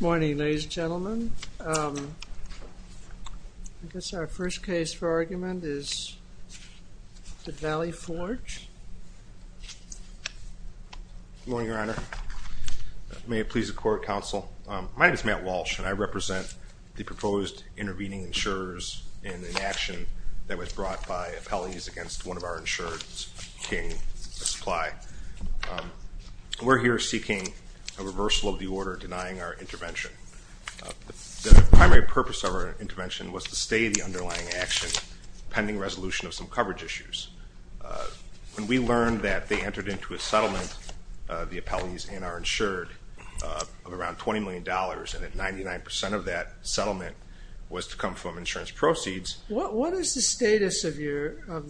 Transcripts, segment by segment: Morning, ladies and gentlemen. I guess our first case for argument is the Valley Forge. Good morning, Your Honor. May it please the Court, Counsel. My name is Matt Walsh, and I represent the proposed intervening insurers in an action that was brought by appellees against one of our insurers, King Supply. We're here seeking a reversal of the order denying our intervention. The primary purpose of our intervention was to stay the underlying action pending resolution of some coverage issues. When we learned that they entered into a settlement, the appellees and our insured, of around $20 million, and that 99% of that settlement was to come from insurance proceeds. What is the status of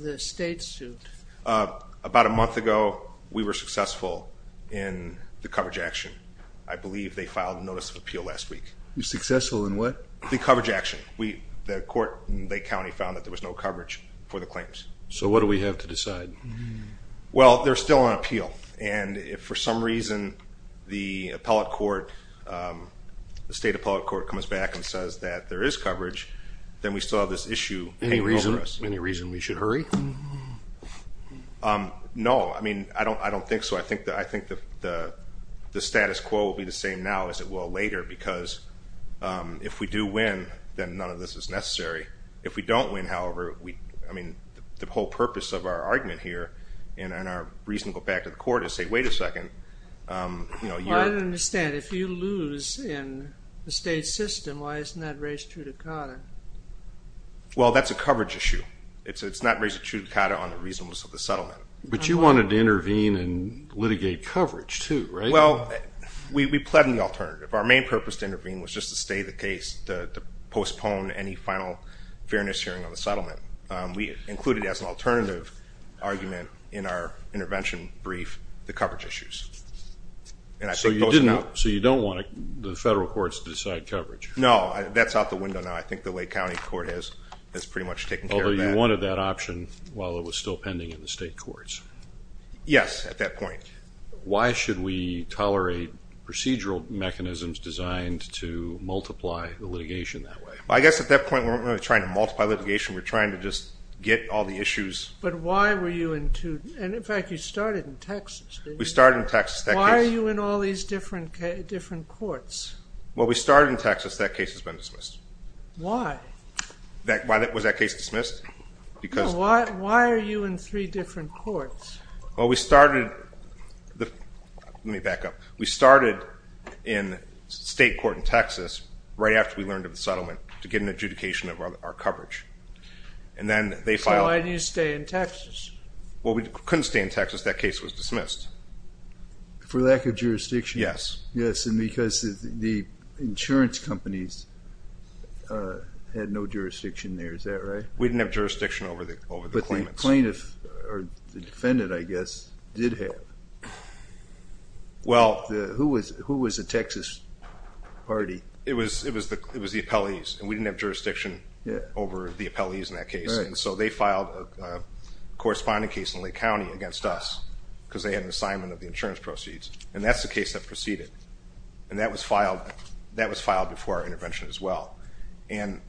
the state suit? About a month ago, we were successful in the coverage action. I believe they filed a notice of appeal last week. You were successful in what? The coverage action. The court in Lake County found that there was no coverage for the claims. So what do we have to decide? Well, they're still on appeal, and if for some reason the State Appellate Court comes back and says that there is coverage, then we still have this issue hanging over us. Any reason we should hurry? No, I mean, I don't think so. I think the status quo will be the same now as it will later, because if we do win, then none of this is necessary. If we don't win, however, I mean, the whole purpose of our argument here and our reason to go back to the court is to say, wait a second. I don't understand. If you lose in the state system, why isn't that raised true to COTA? Well, that's a coverage issue. It's not raised true to COTA on the reasonableness of the settlement. But you wanted to intervene and litigate coverage, too, right? Well, we pled in the alternative. Our main purpose to intervene was just to stay the case, to postpone any final fairness hearing on the settlement. We included as an alternative argument in our intervention brief the coverage issues. So you don't want the federal courts to decide coverage? No, that's out the window now. I think the Lake County Court has pretty much taken care of that. Although you wanted that option while it was still pending in the state courts? Yes, at that point. Why should we tolerate procedural mechanisms designed to multiply the litigation that way? Well, I guess at that point we weren't really trying to multiply litigation. We were trying to just get all the issues. But why were you in two? And in fact, you started in Texas, didn't you? We started in Texas. Why are you in all these different courts? Well, we started in Texas. That case has been dismissed. Why? Was that case dismissed? No, why are you in three different courts? Well, we started in state court in Texas right after we learned of the settlement to get an adjudication of our coverage. So why did you stay in Texas? Well, we couldn't stay in Texas. That case was dismissed. For lack of jurisdiction? Yes. Yes, and because the insurance companies had no jurisdiction there. Is that right? We didn't have jurisdiction over the claimants. But the plaintiff, or the defendant, I guess, did have. Well. Who was the Texas party? It was the appellees, and we didn't have jurisdiction over the appellees in that case. And so they filed a corresponding case in Lake County against us because they had an assignment of the insurance proceeds. And that's the case that proceeded. And that was filed before our intervention as well. And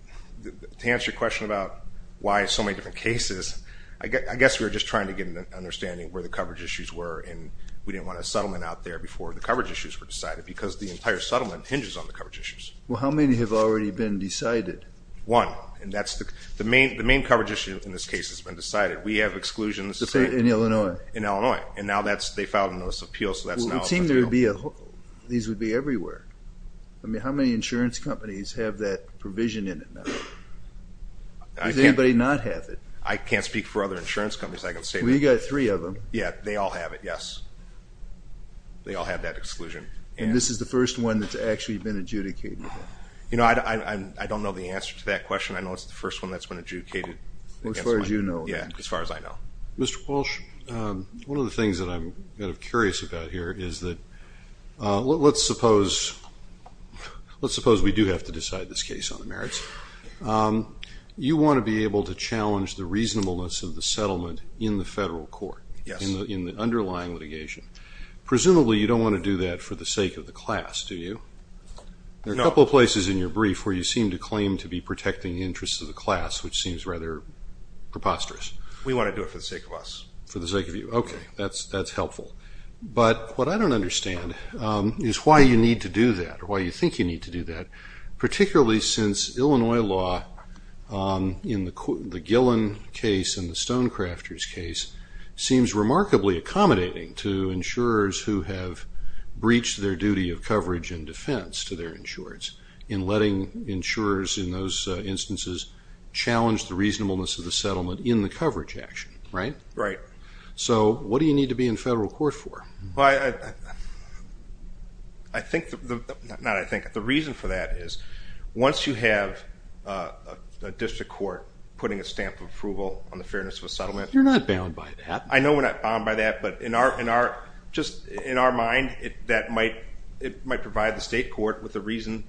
to answer your question about why so many different cases, I guess we were just trying to get an understanding of where the coverage issues were, and we didn't want a settlement out there before the coverage issues were decided, because the entire settlement hinges on the coverage issues. Well, how many have already been decided? One. And the main coverage issue in this case has been decided. We have exclusions. In Illinois? In Illinois. In Illinois. And now they filed a notice of appeal, so that's now a material. Well, it would seem these would be everywhere. I mean, how many insurance companies have that provision in it now? Does anybody not have it? I can't speak for other insurance companies. I can say that. Well, you've got three of them. Yeah, they all have it, yes. They all have that exclusion. And this is the first one that's actually been adjudicated? You know, I don't know the answer to that question. I know it's the first one that's been adjudicated. As far as you know. Yeah, as far as I know. Mr. Walsh, one of the things that I'm kind of curious about here is that let's suppose we do have to decide this case on the merits. You want to be able to challenge the reasonableness of the settlement in the federal court in the underlying litigation. Presumably you don't want to do that for the sake of the class, do you? No. There are a couple of places in your brief where you seem to claim to be protecting the interests of the class, which seems rather preposterous. We want to do it for the sake of us. For the sake of you. Okay, that's helpful. But what I don't understand is why you need to do that or why you think you need to do that, particularly since Illinois law in the Gillen case and the Stonecrafters case seems remarkably accommodating to insurers who have breached their duty of coverage and defense to their insurers in letting insurers in those instances challenge the reasonableness of the coverage action, right? Right. So what do you need to be in federal court for? Well, I think the reason for that is once you have a district court putting a stamp of approval on the fairness of a settlement. You're not bound by that. I know we're not bound by that, but just in our mind, it might provide the state court with a reason.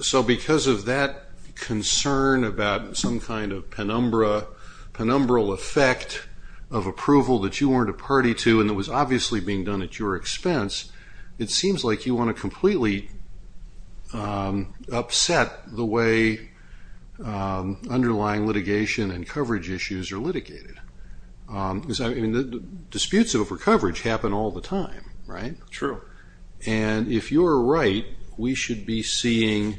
So because of that concern about some kind of penumbra, penumbral effect of approval that you weren't a party to and that was obviously being done at your expense, it seems like you want to completely upset the way underlying litigation and coverage issues are litigated. Disputes over coverage happen all the time, right? True. And if you're right, we should be seeing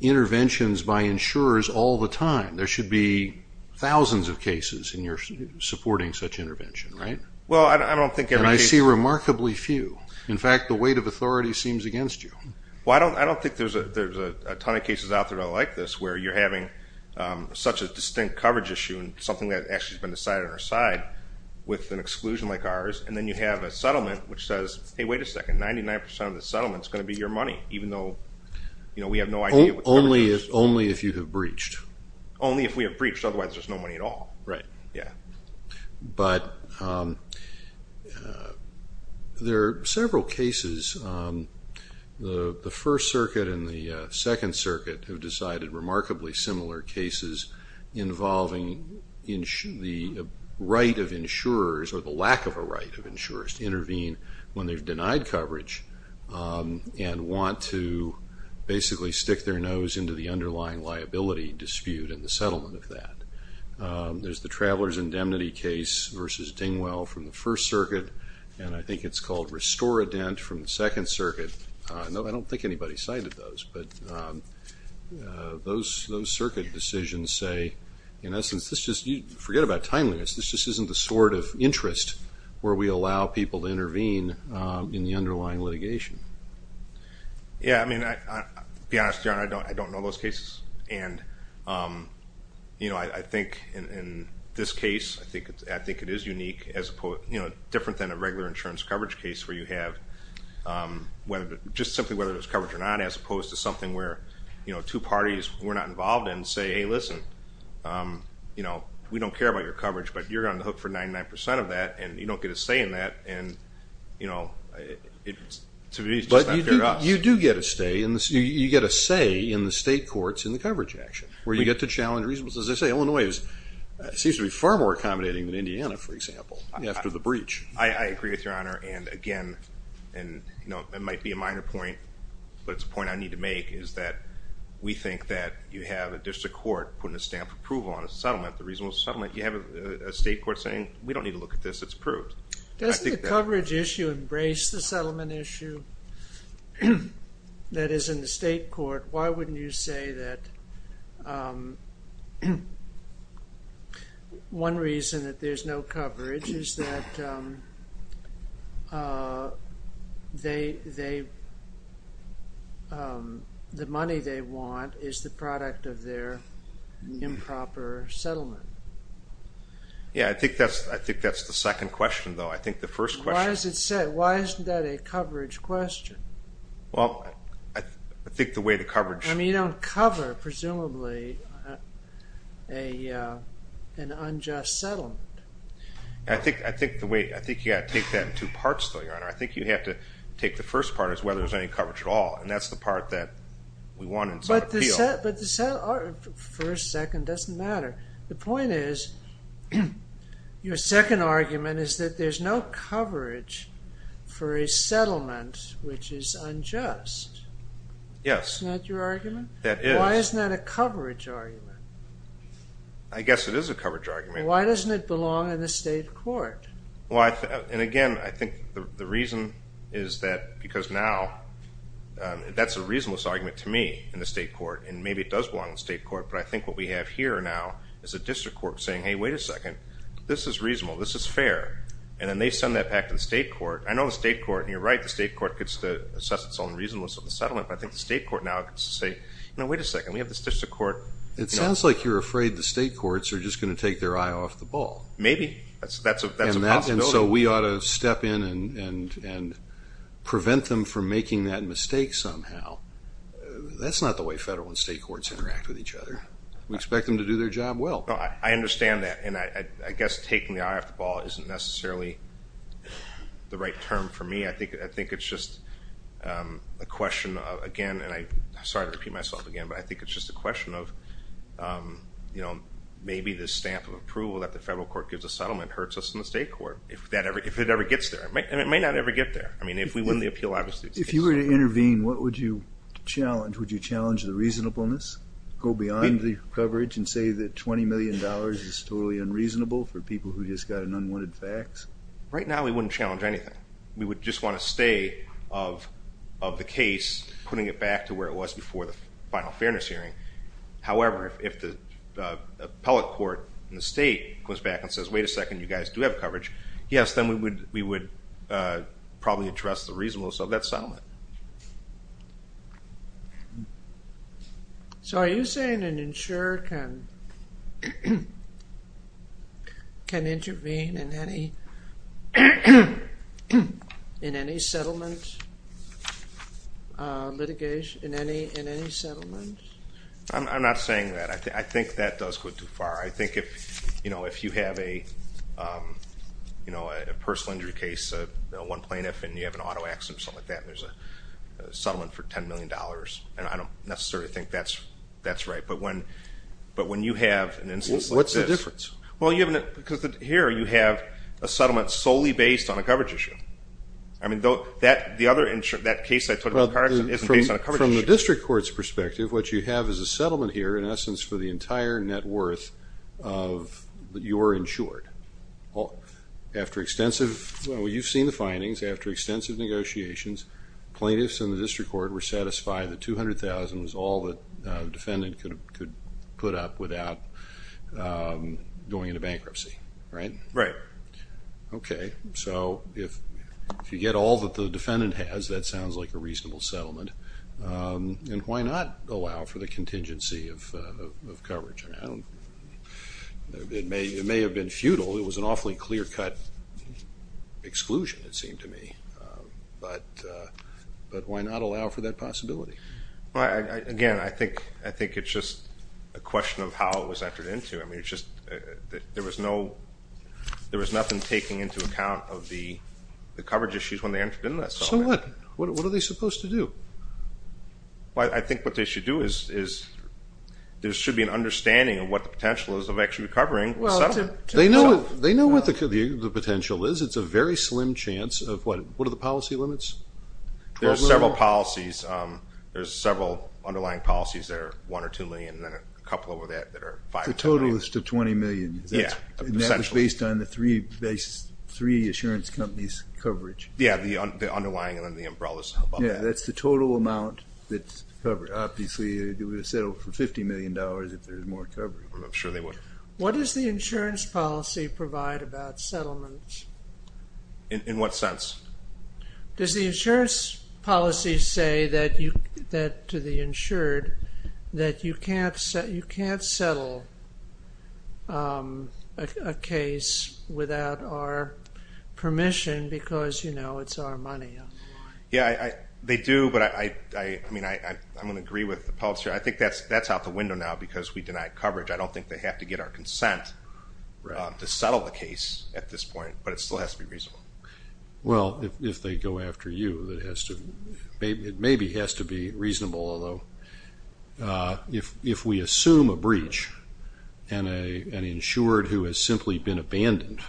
interventions by insurers all the time. There should be thousands of cases and you're supporting such intervention, right? Well, I don't think every case. And I see remarkably few. In fact, the weight of authority seems against you. Well, I don't think there's a ton of cases out there that are like this where you're having such a distinct coverage issue and something that actually has been decided on our side with an exclusion like ours, and then you have a settlement which says, hey, wait a second, 99% of the settlement is going to be your money, even though we have no idea. Only if you have breached. Only if we have breached, otherwise there's no money at all. Right. Yeah. But there are several cases. The First Circuit and the Second Circuit have decided remarkably similar cases involving the right of insurers or the lack of a right of insurers to intervene when they've denied coverage and want to basically stick their nose into the underlying liability dispute and the settlement of that. There's the Travelers' Indemnity case versus Dingwell from the First Circuit, and I think it's called Restore a Dent from the Second Circuit. I don't think anybody cited those, but those circuit decisions say, in essence, forget about timeliness, this just isn't the sort of interest where we allow people to intervene in the underlying litigation. Yeah. I mean, to be honest, John, I don't know those cases, and I think in this case, I think it is unique, different than a regular insurance coverage case where you have just simply whether there's coverage or not as opposed to something where two parties we're not involved in say, hey, listen, we don't care about your coverage, but you're on the hook for 99% of that, and you don't get a say in that, and to me it's just not fair to us. But you do get a say in the state courts in the coverage action where you get to challenge reasonableness. As I say, Illinois seems to be far more accommodating than Indiana, for example, after the breach. I agree with Your Honor, and again, it might be a minor point, but it's a point I need to make is that we think that you have a district court putting a stamp of approval on a settlement, the reasonable settlement. You have a state court saying we don't need to look at this. It's approved. Doesn't the coverage issue embrace the settlement issue that is in the state court? Why wouldn't you say that one reason that there's no coverage is that the money they want is the product of their improper settlement? Yeah, I think that's the second question, though. I think the first question is... Why isn't that a coverage question? Well, I think the way the coverage... I mean you don't cover, presumably, an unjust settlement. I think you've got to take that in two parts, though, Your Honor. I think you have to take the first part as whether there's any coverage at all, and that's the part that we want in some appeal. But the first, second doesn't matter. The point is your second argument is that there's no coverage for a settlement which is unjust. Yes. Isn't that your argument? That is. Why isn't that a coverage argument? I guess it is a coverage argument. Why doesn't it belong in the state court? Again, I think the reason is that because now that's a reasonable argument to me in the state court, and maybe it does belong in the state court, but I think what we have here now is a district court saying, hey, wait a second, this is reasonable, this is fair, and then they send that back to the state court. I know the state court, and you're right, the state court gets to assess its own reasonableness of the settlement, but I think the state court now gets to say, wait a second, we have this district court... It sounds like you're afraid the state courts are just going to take their eye off the ball. Maybe. That's a possibility. And so we ought to step in and prevent them from making that mistake somehow. That's not the way federal and state courts interact with each other. We expect them to do their job well. I understand that, and I guess taking the eye off the ball isn't necessarily the right term for me. I think it's just a question of, again, and I'm sorry to repeat myself again, but I think it's just a question of maybe the stamp of approval that the federal court gives a settlement hurts us in the state court if it ever gets there, and it may not ever get there. I mean, if we win the appeal, obviously... If you were to intervene, what would you challenge? Would you challenge the reasonableness, go beyond the coverage and say that $20 million is totally unreasonable for people who just got an unwanted fax? Right now we wouldn't challenge anything. We would just want to stay of the case, putting it back to where it was before the final fairness hearing. However, if the appellate court in the state goes back and says, wait a second, you guys do have coverage, yes, then we would probably address the reasonableness of that settlement. So are you saying an insurer can intervene in any settlement? I'm not saying that. I think that does go too far. I think if you have a personal injury case, one plaintiff and you have an auto accident or something like that, and there's a settlement for $10 million, and I don't necessarily think that's right. But when you have an instance like this... What's the difference? Well, because here you have a settlement solely based on a coverage issue. I mean, the other thing is, from the district court's perspective, what you have is a settlement here, in essence, for the entire net worth that you are insured. Well, you've seen the findings. After extensive negotiations, plaintiffs and the district court were satisfied that $200,000 was all the defendant could put up without going into bankruptcy, right? Right. Okay. So if you get all that the defendant has, that sounds like a reasonable settlement. And why not allow for the contingency of coverage? It may have been futile. It was an awfully clear-cut exclusion, it seemed to me. But why not allow for that possibility? Again, I think it's just a question of how it was entered into. I mean, there was nothing taken into account of the coverage issues when they entered into that settlement. So what? What are they supposed to do? Well, I think what they should do is there should be an understanding of what the potential is of actually recovering the settlement. They know what the potential is. It's a very slim chance of what? What are the policy limits? There are several policies. There are several underlying policies that are one or two lenient, and then a couple of that that are five to nine. The total is to $20 million. Yeah, essentially. And that is based on the three insurance companies' coverage. Yeah, the underlying and then the umbrellas above that. Yeah, that's the total amount that's covered. Obviously, they would have settled for $50 million if there was more coverage. I'm sure they would. What does the insurance policy provide about settlements? In what sense? Does the insurance policy say that to the insured that you can't settle a case without our permission because, you know, it's our money? Yeah, they do. But, I mean, I'm going to agree with the policy. I think that's out the window now because we deny coverage. I don't think they have to get our consent to settle the case at this point, but it still has to be reasonable. Well, if they go after you, it maybe has to be reasonable, although if we assume a breach and an insured who has simply been abandoned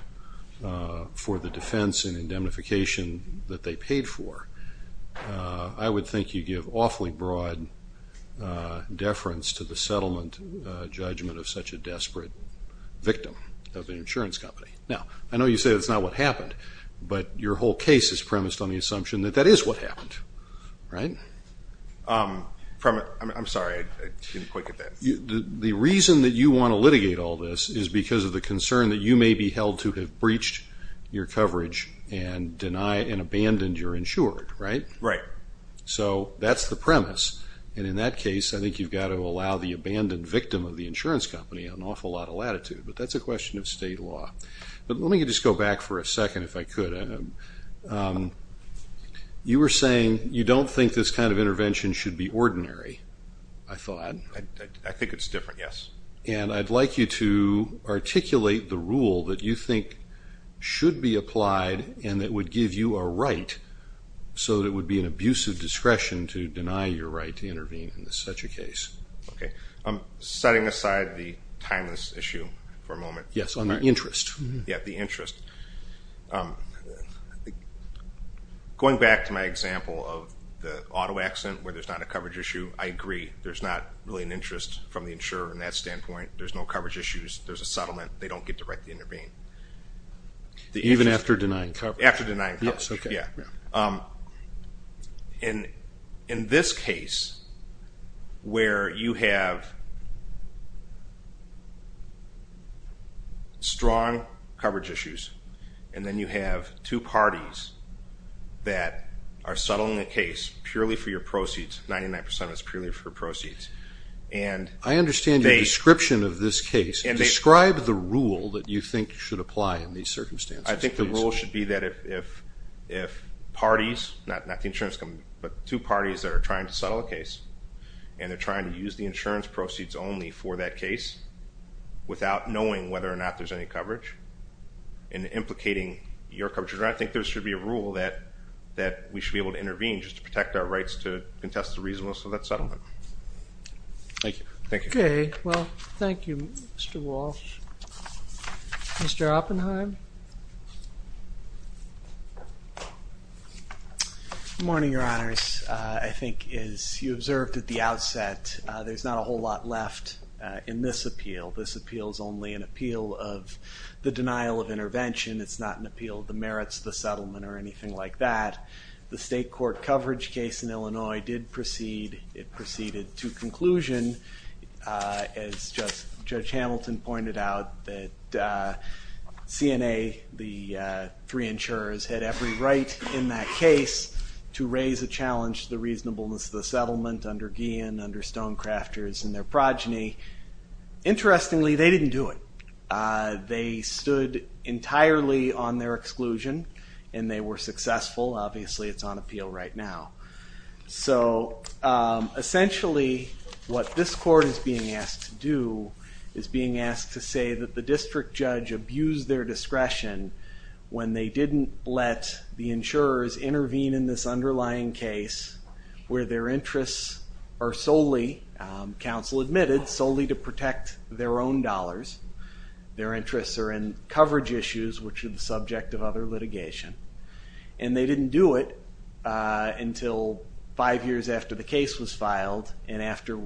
for the defense and indemnification that they paid for, I would think you give awfully broad deference to the settlement judgment of such a desperate victim of an insurance company. Now, I know you say that's not what happened, but your whole case is premised on the assumption that that is what happened, right? I'm sorry, I didn't quite get that. The reason that you want to litigate all this is because of the concern that you may be held to have breached your coverage and abandoned your insured, right? Right. So that's the premise, and in that case, I think you've got to allow the abandoned victim of the insurance company an awful lot of latitude, but that's a question of state law. But let me just go back for a second, if I could. You were saying you don't think this kind of intervention should be ordinary, I thought. I think it's different, yes. And I'd like you to articulate the rule that you think should be applied and that would give you a right so that it would be an abusive discretion to deny your right to intervene in such a case. Okay. Setting aside the timeless issue for a moment. Yes, on the interest. Yeah, the interest. Going back to my example of the auto accident, where there's not a coverage issue, I agree. There's not really an interest from the insurer in that standpoint. There's no coverage issues. There's a settlement. They don't get to write the intervene. Even after denying coverage. After denying coverage. Yes, okay. In this case, where you have strong coverage issues, and then you have two parties that are settling a case purely for your proceeds, 99% is purely for proceeds. I understand the description of this case. Describe the rule that you think should apply in these circumstances. I think the rule should be that if parties, not the insurance company, but two parties that are trying to settle a case, and they're trying to use the insurance proceeds only for that case, without knowing whether or not there's any coverage, and implicating your coverage. I think there should be a rule that we should be able to intervene just to protect our rights to contest the reasonableness of that settlement. Thank you. Thank you. Okay. Well, thank you, Mr. Walsh. Mr. Oppenheim? Good morning, Your Honors. I think, as you observed at the outset, there's not a whole lot left in this appeal. This appeal is only an appeal of the denial of intervention. It's not an appeal of the merits of the settlement or anything like that. The state court coverage case in Illinois did proceed. It proceeded to conclusion, as Judge Hamilton pointed out, that CNA, the three insurers, had every right in that case to raise a challenge to the reasonableness of the settlement under Guillen, under Stonecrafters, and their progeny. Interestingly, they didn't do it. They stood entirely on their exclusion, and they were successful. Obviously, it's on appeal right now. So, essentially, what this court is being asked to do is being asked to say that the district judge abused their discretion when they didn't let the insurers intervene in this underlying case where their interests are solely, counsel admitted, solely to protect their own dollars. Their interests are in coverage issues, which are the subject of other litigation. And they didn't do it until five years after the case was filed and after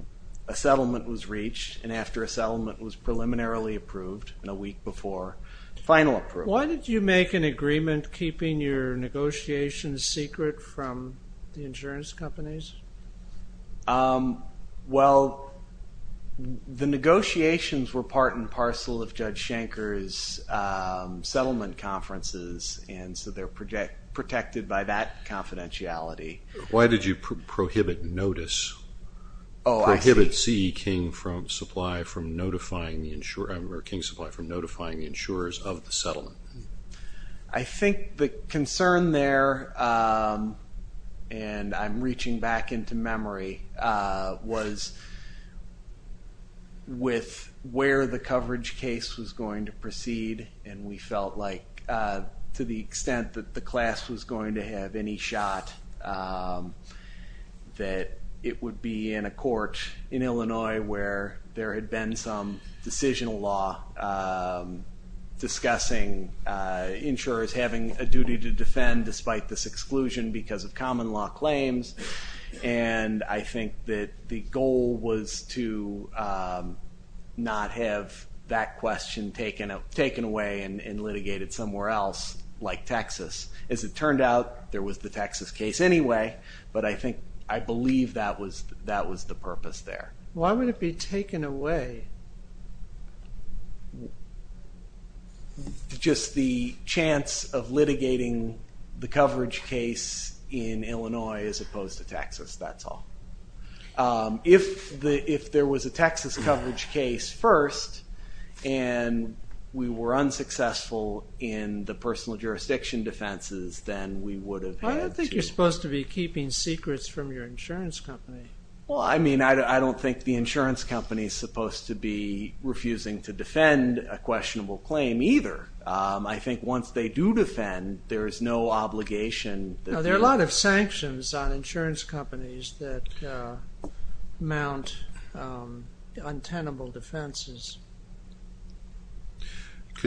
a settlement was reached and after a settlement was preliminarily approved and a week before final approval. Why did you make an agreement keeping your negotiations secret from the insurance companies? Well, the negotiations were part and parcel of Judge Schenker's settlement conferences, and so they're protected by that confidentiality. Why did you prohibit notice? Oh, I see. Prohibit King Supply from notifying the insurers of the settlement. I think the concern there, and I'm reaching back into memory, was with where the coverage case was going to proceed, and we felt like to the extent that the class was going to have any shot, that it would be in a court in Illinois where there had been some decisional law discussing insurers having a duty to defend despite this exclusion because of common law claims. And I think that the goal was to not have that question taken away and litigated somewhere else like Texas. As it turned out, there was the Texas case anyway, but I believe that was the purpose there. Why would it be taken away? Just the chance of litigating the coverage case in Illinois as opposed to Texas, that's all. If there was a Texas coverage case first and we were unsuccessful in the personal jurisdiction defenses, then we would have had to... I don't think you're supposed to be keeping secrets from your insurance company. Well, I mean, I don't think the insurance company is supposed to be refusing to defend a questionable claim either. I think once they do defend, there is no obligation. There are a lot of sanctions on insurance companies that mount untenable defenses.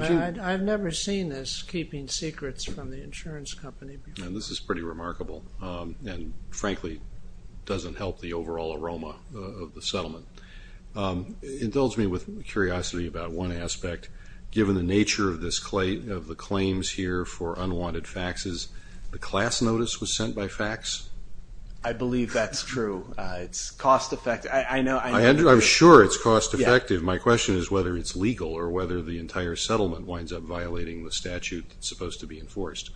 I've never seen this, keeping secrets from the insurance company. This is pretty remarkable and frankly doesn't help the overall aroma of the settlement. Indulge me with curiosity about one aspect. Given the nature of the claims here for unwanted faxes, the class notice was sent by fax? I believe that's true. It's cost-effective. I'm sure it's cost-effective. My question is whether it's legal or whether the entire settlement winds up violating the statute that's supposed to be enforced.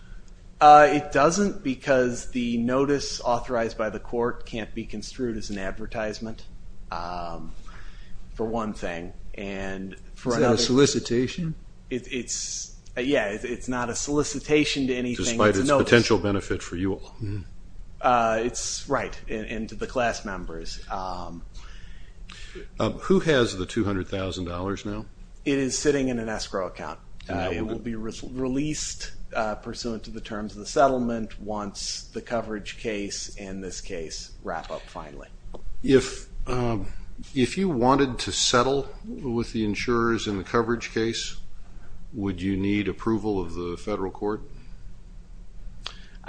It doesn't because the notice authorized by the court can't be construed as an advertisement for one thing. Is that a solicitation? Yeah, it's not a solicitation to anything. Despite its potential benefit for you all? Right, and to the class members. Who has the $200,000 now? It is sitting in an escrow account. It will be released pursuant to the terms of the settlement once the coverage case and this case wrap up finally. If you wanted to settle with the insurers in the coverage case, would you need approval of the federal court?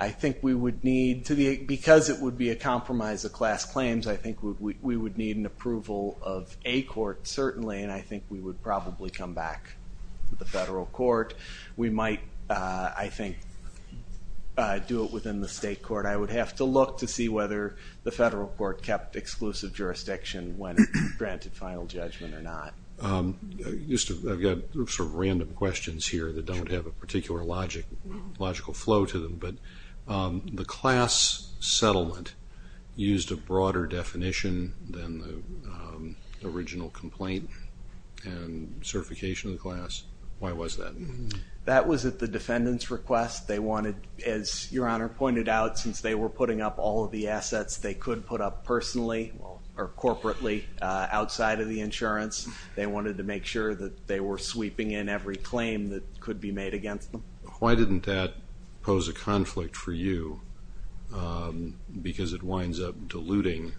I think we would need, because it would be a compromise of class claims, I think we would need an approval of a court certainly, and I think we would probably come back to the federal court. We might, I think, do it within the state court. I would have to look to see whether the federal court kept exclusive jurisdiction when it granted final judgment or not. I've got sort of random questions here that don't have a particular logical flow to them, but the class settlement used a broader definition than the original complaint and certification of the class. Why was that? That was at the defendant's request. They wanted, as Your Honor pointed out, since they were putting up all of the assets they could put up personally or corporately outside of the insurance, they wanted to make sure that they were sweeping in every claim that could be made against them. Why didn't that pose a conflict for you, because it winds up diluting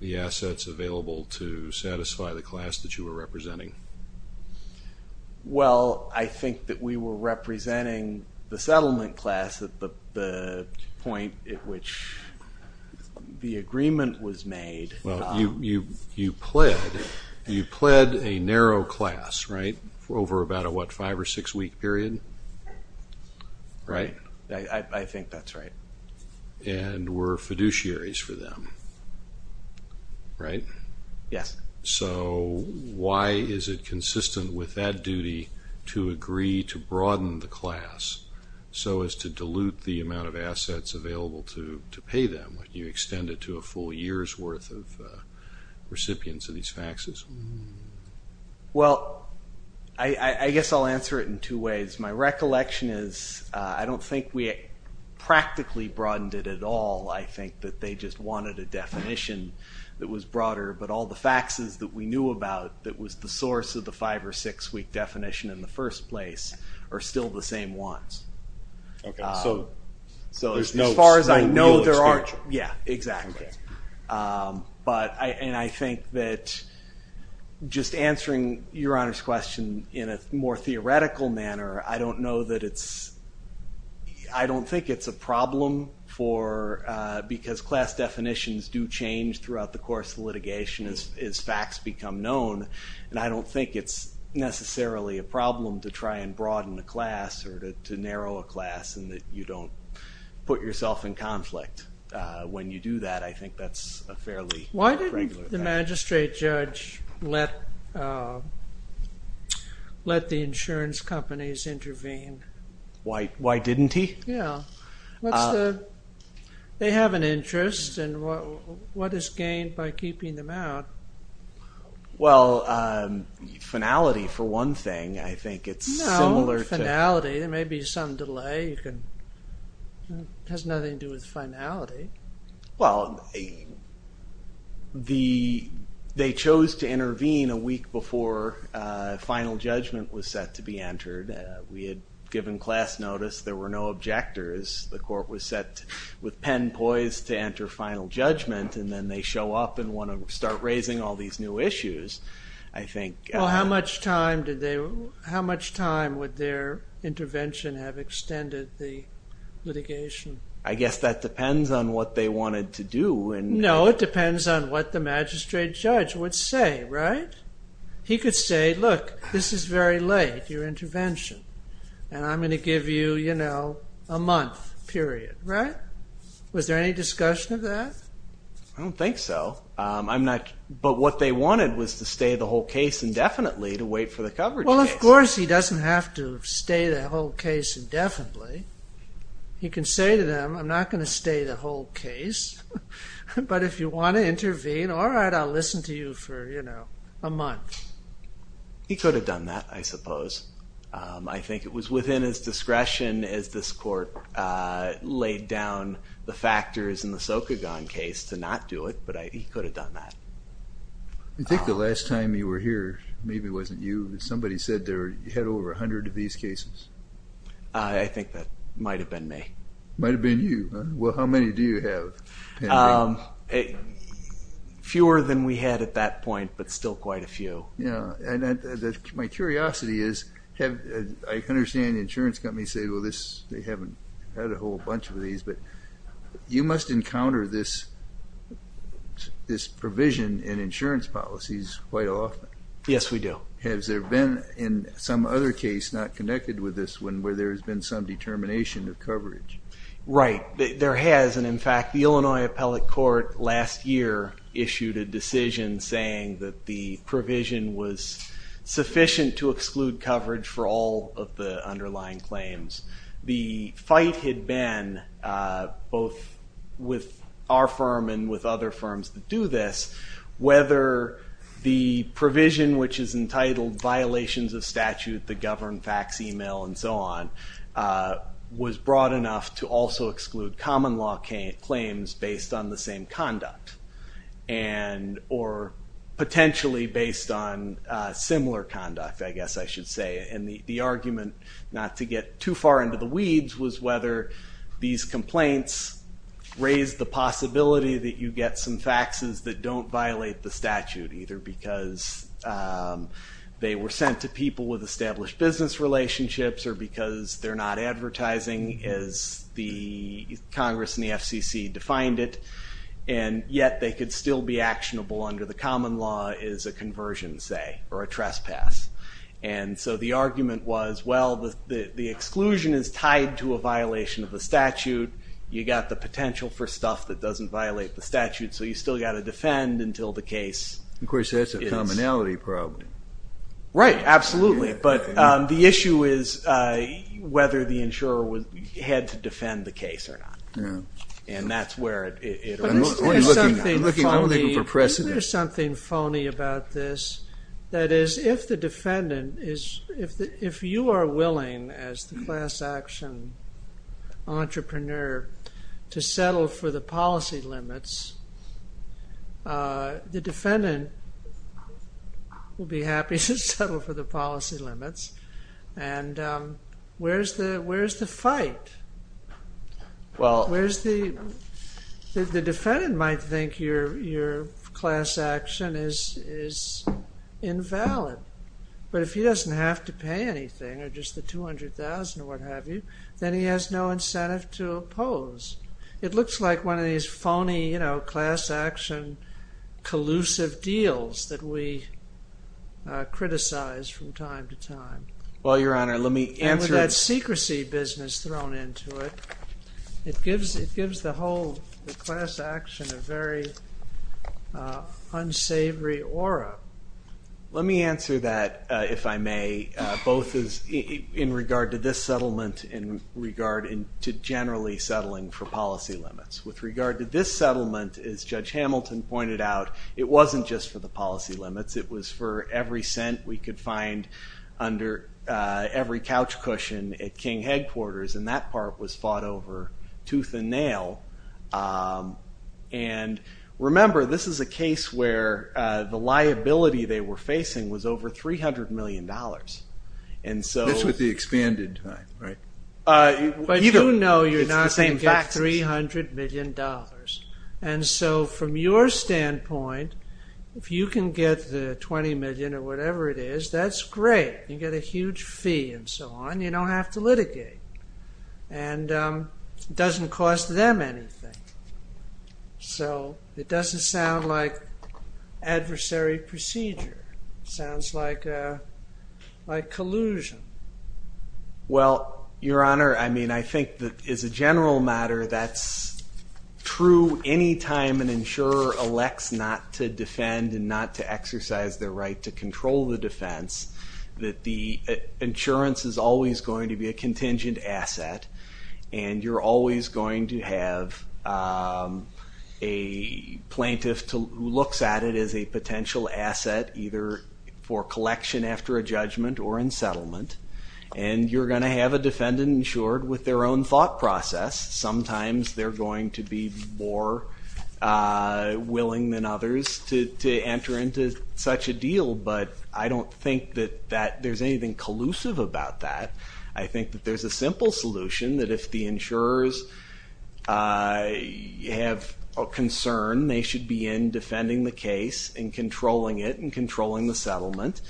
the assets available to satisfy the class that you were representing? Well, I think that we were representing the settlement class at the point at which the agreement was made. Well, you pled a narrow class, right, over about a, what, five- or six-week period, right? I think that's right. And were fiduciaries for them, right? Yes. So why is it consistent with that duty to agree to broaden the class so as to dilute the amount of assets available to pay them when you extend it to a full year's worth of recipients of these faxes? Well, I guess I'll answer it in two ways. My recollection is I don't think we practically broadened it at all. I think that they just wanted a definition that was broader, but all the faxes that we knew about that was the source of the five- or six-week definition in the first place are still the same ones. Okay, so there's no new extension. Yeah, exactly. And I think that just answering Your Honor's question in a more theoretical manner, I don't know that it's, I don't think it's a problem for, because class definitions do change throughout the course of litigation as fax become known, and I don't think it's necessarily a problem to try and broaden the class or to narrow a class in that you don't put yourself in conflict. When you do that, I think that's a fairly regular thing. Why didn't the magistrate judge let the insurance companies intervene? Why didn't he? Yeah. They have an interest, and what is gained by keeping them out? Well, finality for one thing, I think it's similar to... Finality, there may be some delay. It has nothing to do with finality. Well, they chose to intervene a week before final judgment was set to be entered. We had given class notice. There were no objectors. The court was set with pen poised to enter final judgment, and then they show up and want to start raising all these new issues, I think. Well, how much time would their intervention have extended the litigation? I guess that depends on what they wanted to do. No, it depends on what the magistrate judge would say, right? He could say, look, this is very late, your intervention, and I'm going to give you a month period, right? Was there any discussion of that? I don't think so. But what they wanted was to stay the whole case indefinitely to wait for the coverage case. Well, of course he doesn't have to stay the whole case indefinitely. He can say to them, I'm not going to stay the whole case, but if you want to intervene, all right, I'll listen to you for a month. He could have done that, I suppose. I think it was within his discretion as this court laid down the factors in the Sokogon case to not do it, but he could have done that. I think the last time you were here, maybe it wasn't you, but somebody said you had over 100 of these cases. I think that might have been me. Might have been you. Well, how many do you have, Henry? Fewer than we had at that point, but still quite a few. My curiosity is, I understand the insurance company said, well, they haven't had a whole bunch of these, but you must encounter this provision in insurance policies quite often. Yes, we do. Has there been in some other case not connected with this one where there has been some determination of coverage? Right. There has, and, in fact, the Illinois Appellate Court last year issued a decision saying that the provision was sufficient to exclude coverage for all of the underlying claims. The fight had been, both with our firm and with other firms that do this, whether the provision, which is entitled violations of statute that govern fax, email, and so on, was broad enough to also exclude common law claims based on the same conduct or potentially based on similar conduct, I guess I should say, and the argument not to get too far into the weeds was whether these complaints raise the possibility that you get some faxes that don't violate the statute, either because they were sent to people with established business relationships or because they're not advertising as the Congress and the FCC defined it, and yet they could still be actionable under the common law as a conversion, say, or a trespass. And so the argument was, well, the exclusion is tied to a violation of the statute. You've got the potential for stuff that doesn't violate the statute, so you've still got to defend until the case is. Of course, that's a commonality problem. Right, absolutely. But the issue is whether the insurer had to defend the case or not. And that's where it arose. There's something phony about this. That is, if you are willing, as the class action entrepreneur, to settle for the policy limits, the defendant will be happy to settle for the policy limits. And where's the fight? Where's the... The defendant might think your class action is invalid, but if he doesn't have to pay anything or just the $200,000 or what have you, then he has no incentive to oppose. It looks like one of these phony class action collusive deals that we criticize from time to time. Well, Your Honor, let me answer... With that secrecy business thrown into it, it gives the whole class action a very unsavory aura. Let me answer that, if I may, both in regard to this settlement in regard to generally settling for policy limits. With regard to this settlement, as Judge Hamilton pointed out, it wasn't just for the policy limits. It was for every cent we could find under every couch cushion at King headquarters, and that part was fought over tooth and nail. And remember, this is a case where the liability they were facing was over $300 million. This was the expanded time, right? But you know you're not going to get $300 million. And so from your standpoint, if you can get the $20 million or whatever it is, that's great. You get a huge fee and so on. You don't have to litigate. And it doesn't cost them anything. So it doesn't sound like adversary procedure. It sounds like collusion. Well, Your Honor, I mean, I think that as a general matter, that's true any time an insurer elects not to defend and not to exercise their right to control the defense, that the insurance is always going to be a contingent asset, and you're always going to have a plaintiff who looks at it as a potential asset, either for collection after a judgment or in settlement, and you're going to have a defendant insured with their own thought process. Sometimes they're going to be more willing than others to enter into such a deal, but I don't think that there's anything collusive about that. I think that there's a simple solution that if the insurers have a concern, they should be in defending the case and controlling it and controlling the settlement.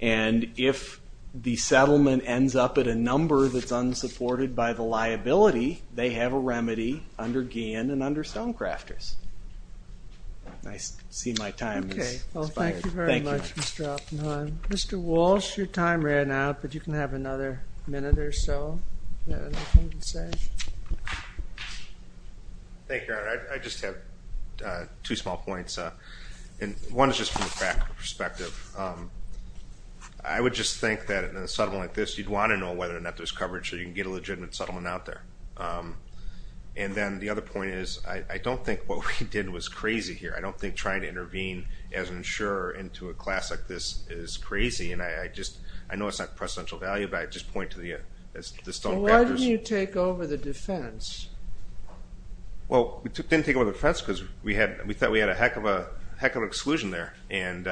And if the settlement ends up at a number that's unsupported by the liability, they have a remedy under Guillen and under Stonecrafters. I see my time has expired. Thank you very much, Mr. Oppenheim. Mr. Walsh, your time ran out, but you can have another minute or so. Do you have anything to say? Thank you, Your Honor. I just have two small points, and one is just from a practical perspective. I would just think that in a settlement like this, you'd want to know whether or not there's coverage so you can get a legitimate settlement out there. And then the other point is I don't think what we did was crazy here. I don't think trying to intervene as an insurer into a class like this is crazy, and I know it's not of precedential value, but I just point to the Stonecrafters. Why didn't you take over the defense? Well, we didn't take over the defense because we thought we had a heck of an exclusion there. I'm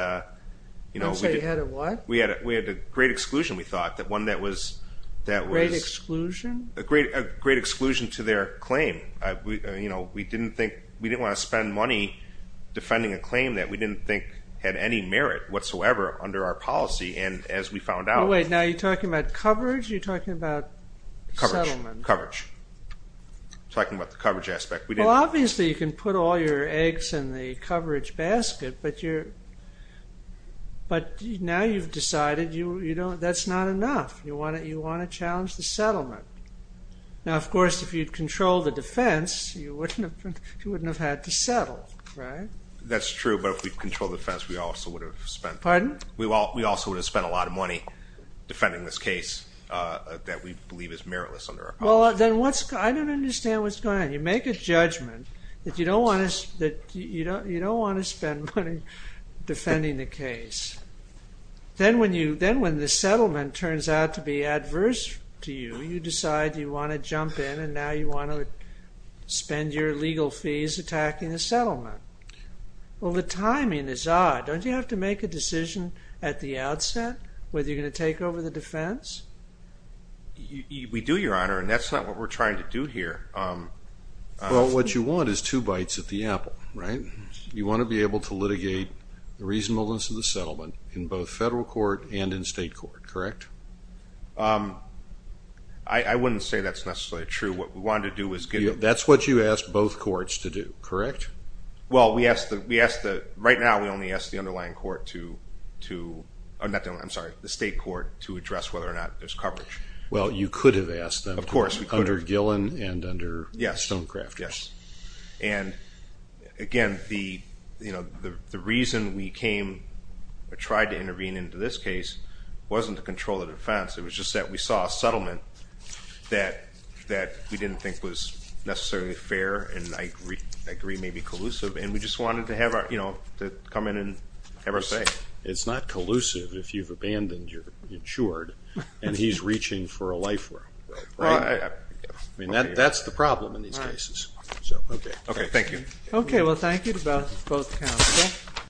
sorry, you had a what? We had a great exclusion, we thought, that was— A great exclusion? A great exclusion to their claim. We didn't want to spend money defending a claim that we didn't think had any merit whatsoever under our policy, and as we found out— Wait, now you're talking about coverage or you're talking about settlement? Coverage. Talking about the coverage aspect. Well, obviously you can put all your eggs in the coverage basket, but now you've decided that's not enough. You want to challenge the settlement. Now, of course, if you'd controlled the defense, you wouldn't have had to settle, right? That's true, but if we'd controlled the defense, we also would have spent— Pardon? We also would have spent a lot of money defending this case that we believe is meritless under our policy. Well, then I don't understand what's going on. You make a judgment that you don't want to spend money defending the case. Then when the settlement turns out to be adverse to you, you decide you want to jump in and now you want to spend your legal fees attacking the settlement. Well, the timing is odd. Don't you have to make a decision at the outset whether you're going to take over the defense? We do, Your Honor, and that's not what we're trying to do here. Well, what you want is two bites at the apple, right? You want to be able to litigate the reasonableness of the settlement in both federal court and in state court, correct? I wouldn't say that's necessarily true. What we wanted to do was get— That's what you asked both courts to do, correct? Well, right now we only ask the underlying court to— I'm sorry, the state court to address whether or not there's coverage. Well, you could have asked them under Gillen and under Stonecraft. Yes, and again, the reason we came or tried to intervene into this case wasn't to control the defense. It was just that we saw a settlement that we didn't think was necessarily fair, and I agree may be collusive, and we just wanted to come in and have our say. It's not collusive if you've abandoned your insured and he's reaching for a life rope, right? I mean, that's the problem in these cases. Okay, thank you. Okay, well, thank you to both counsel.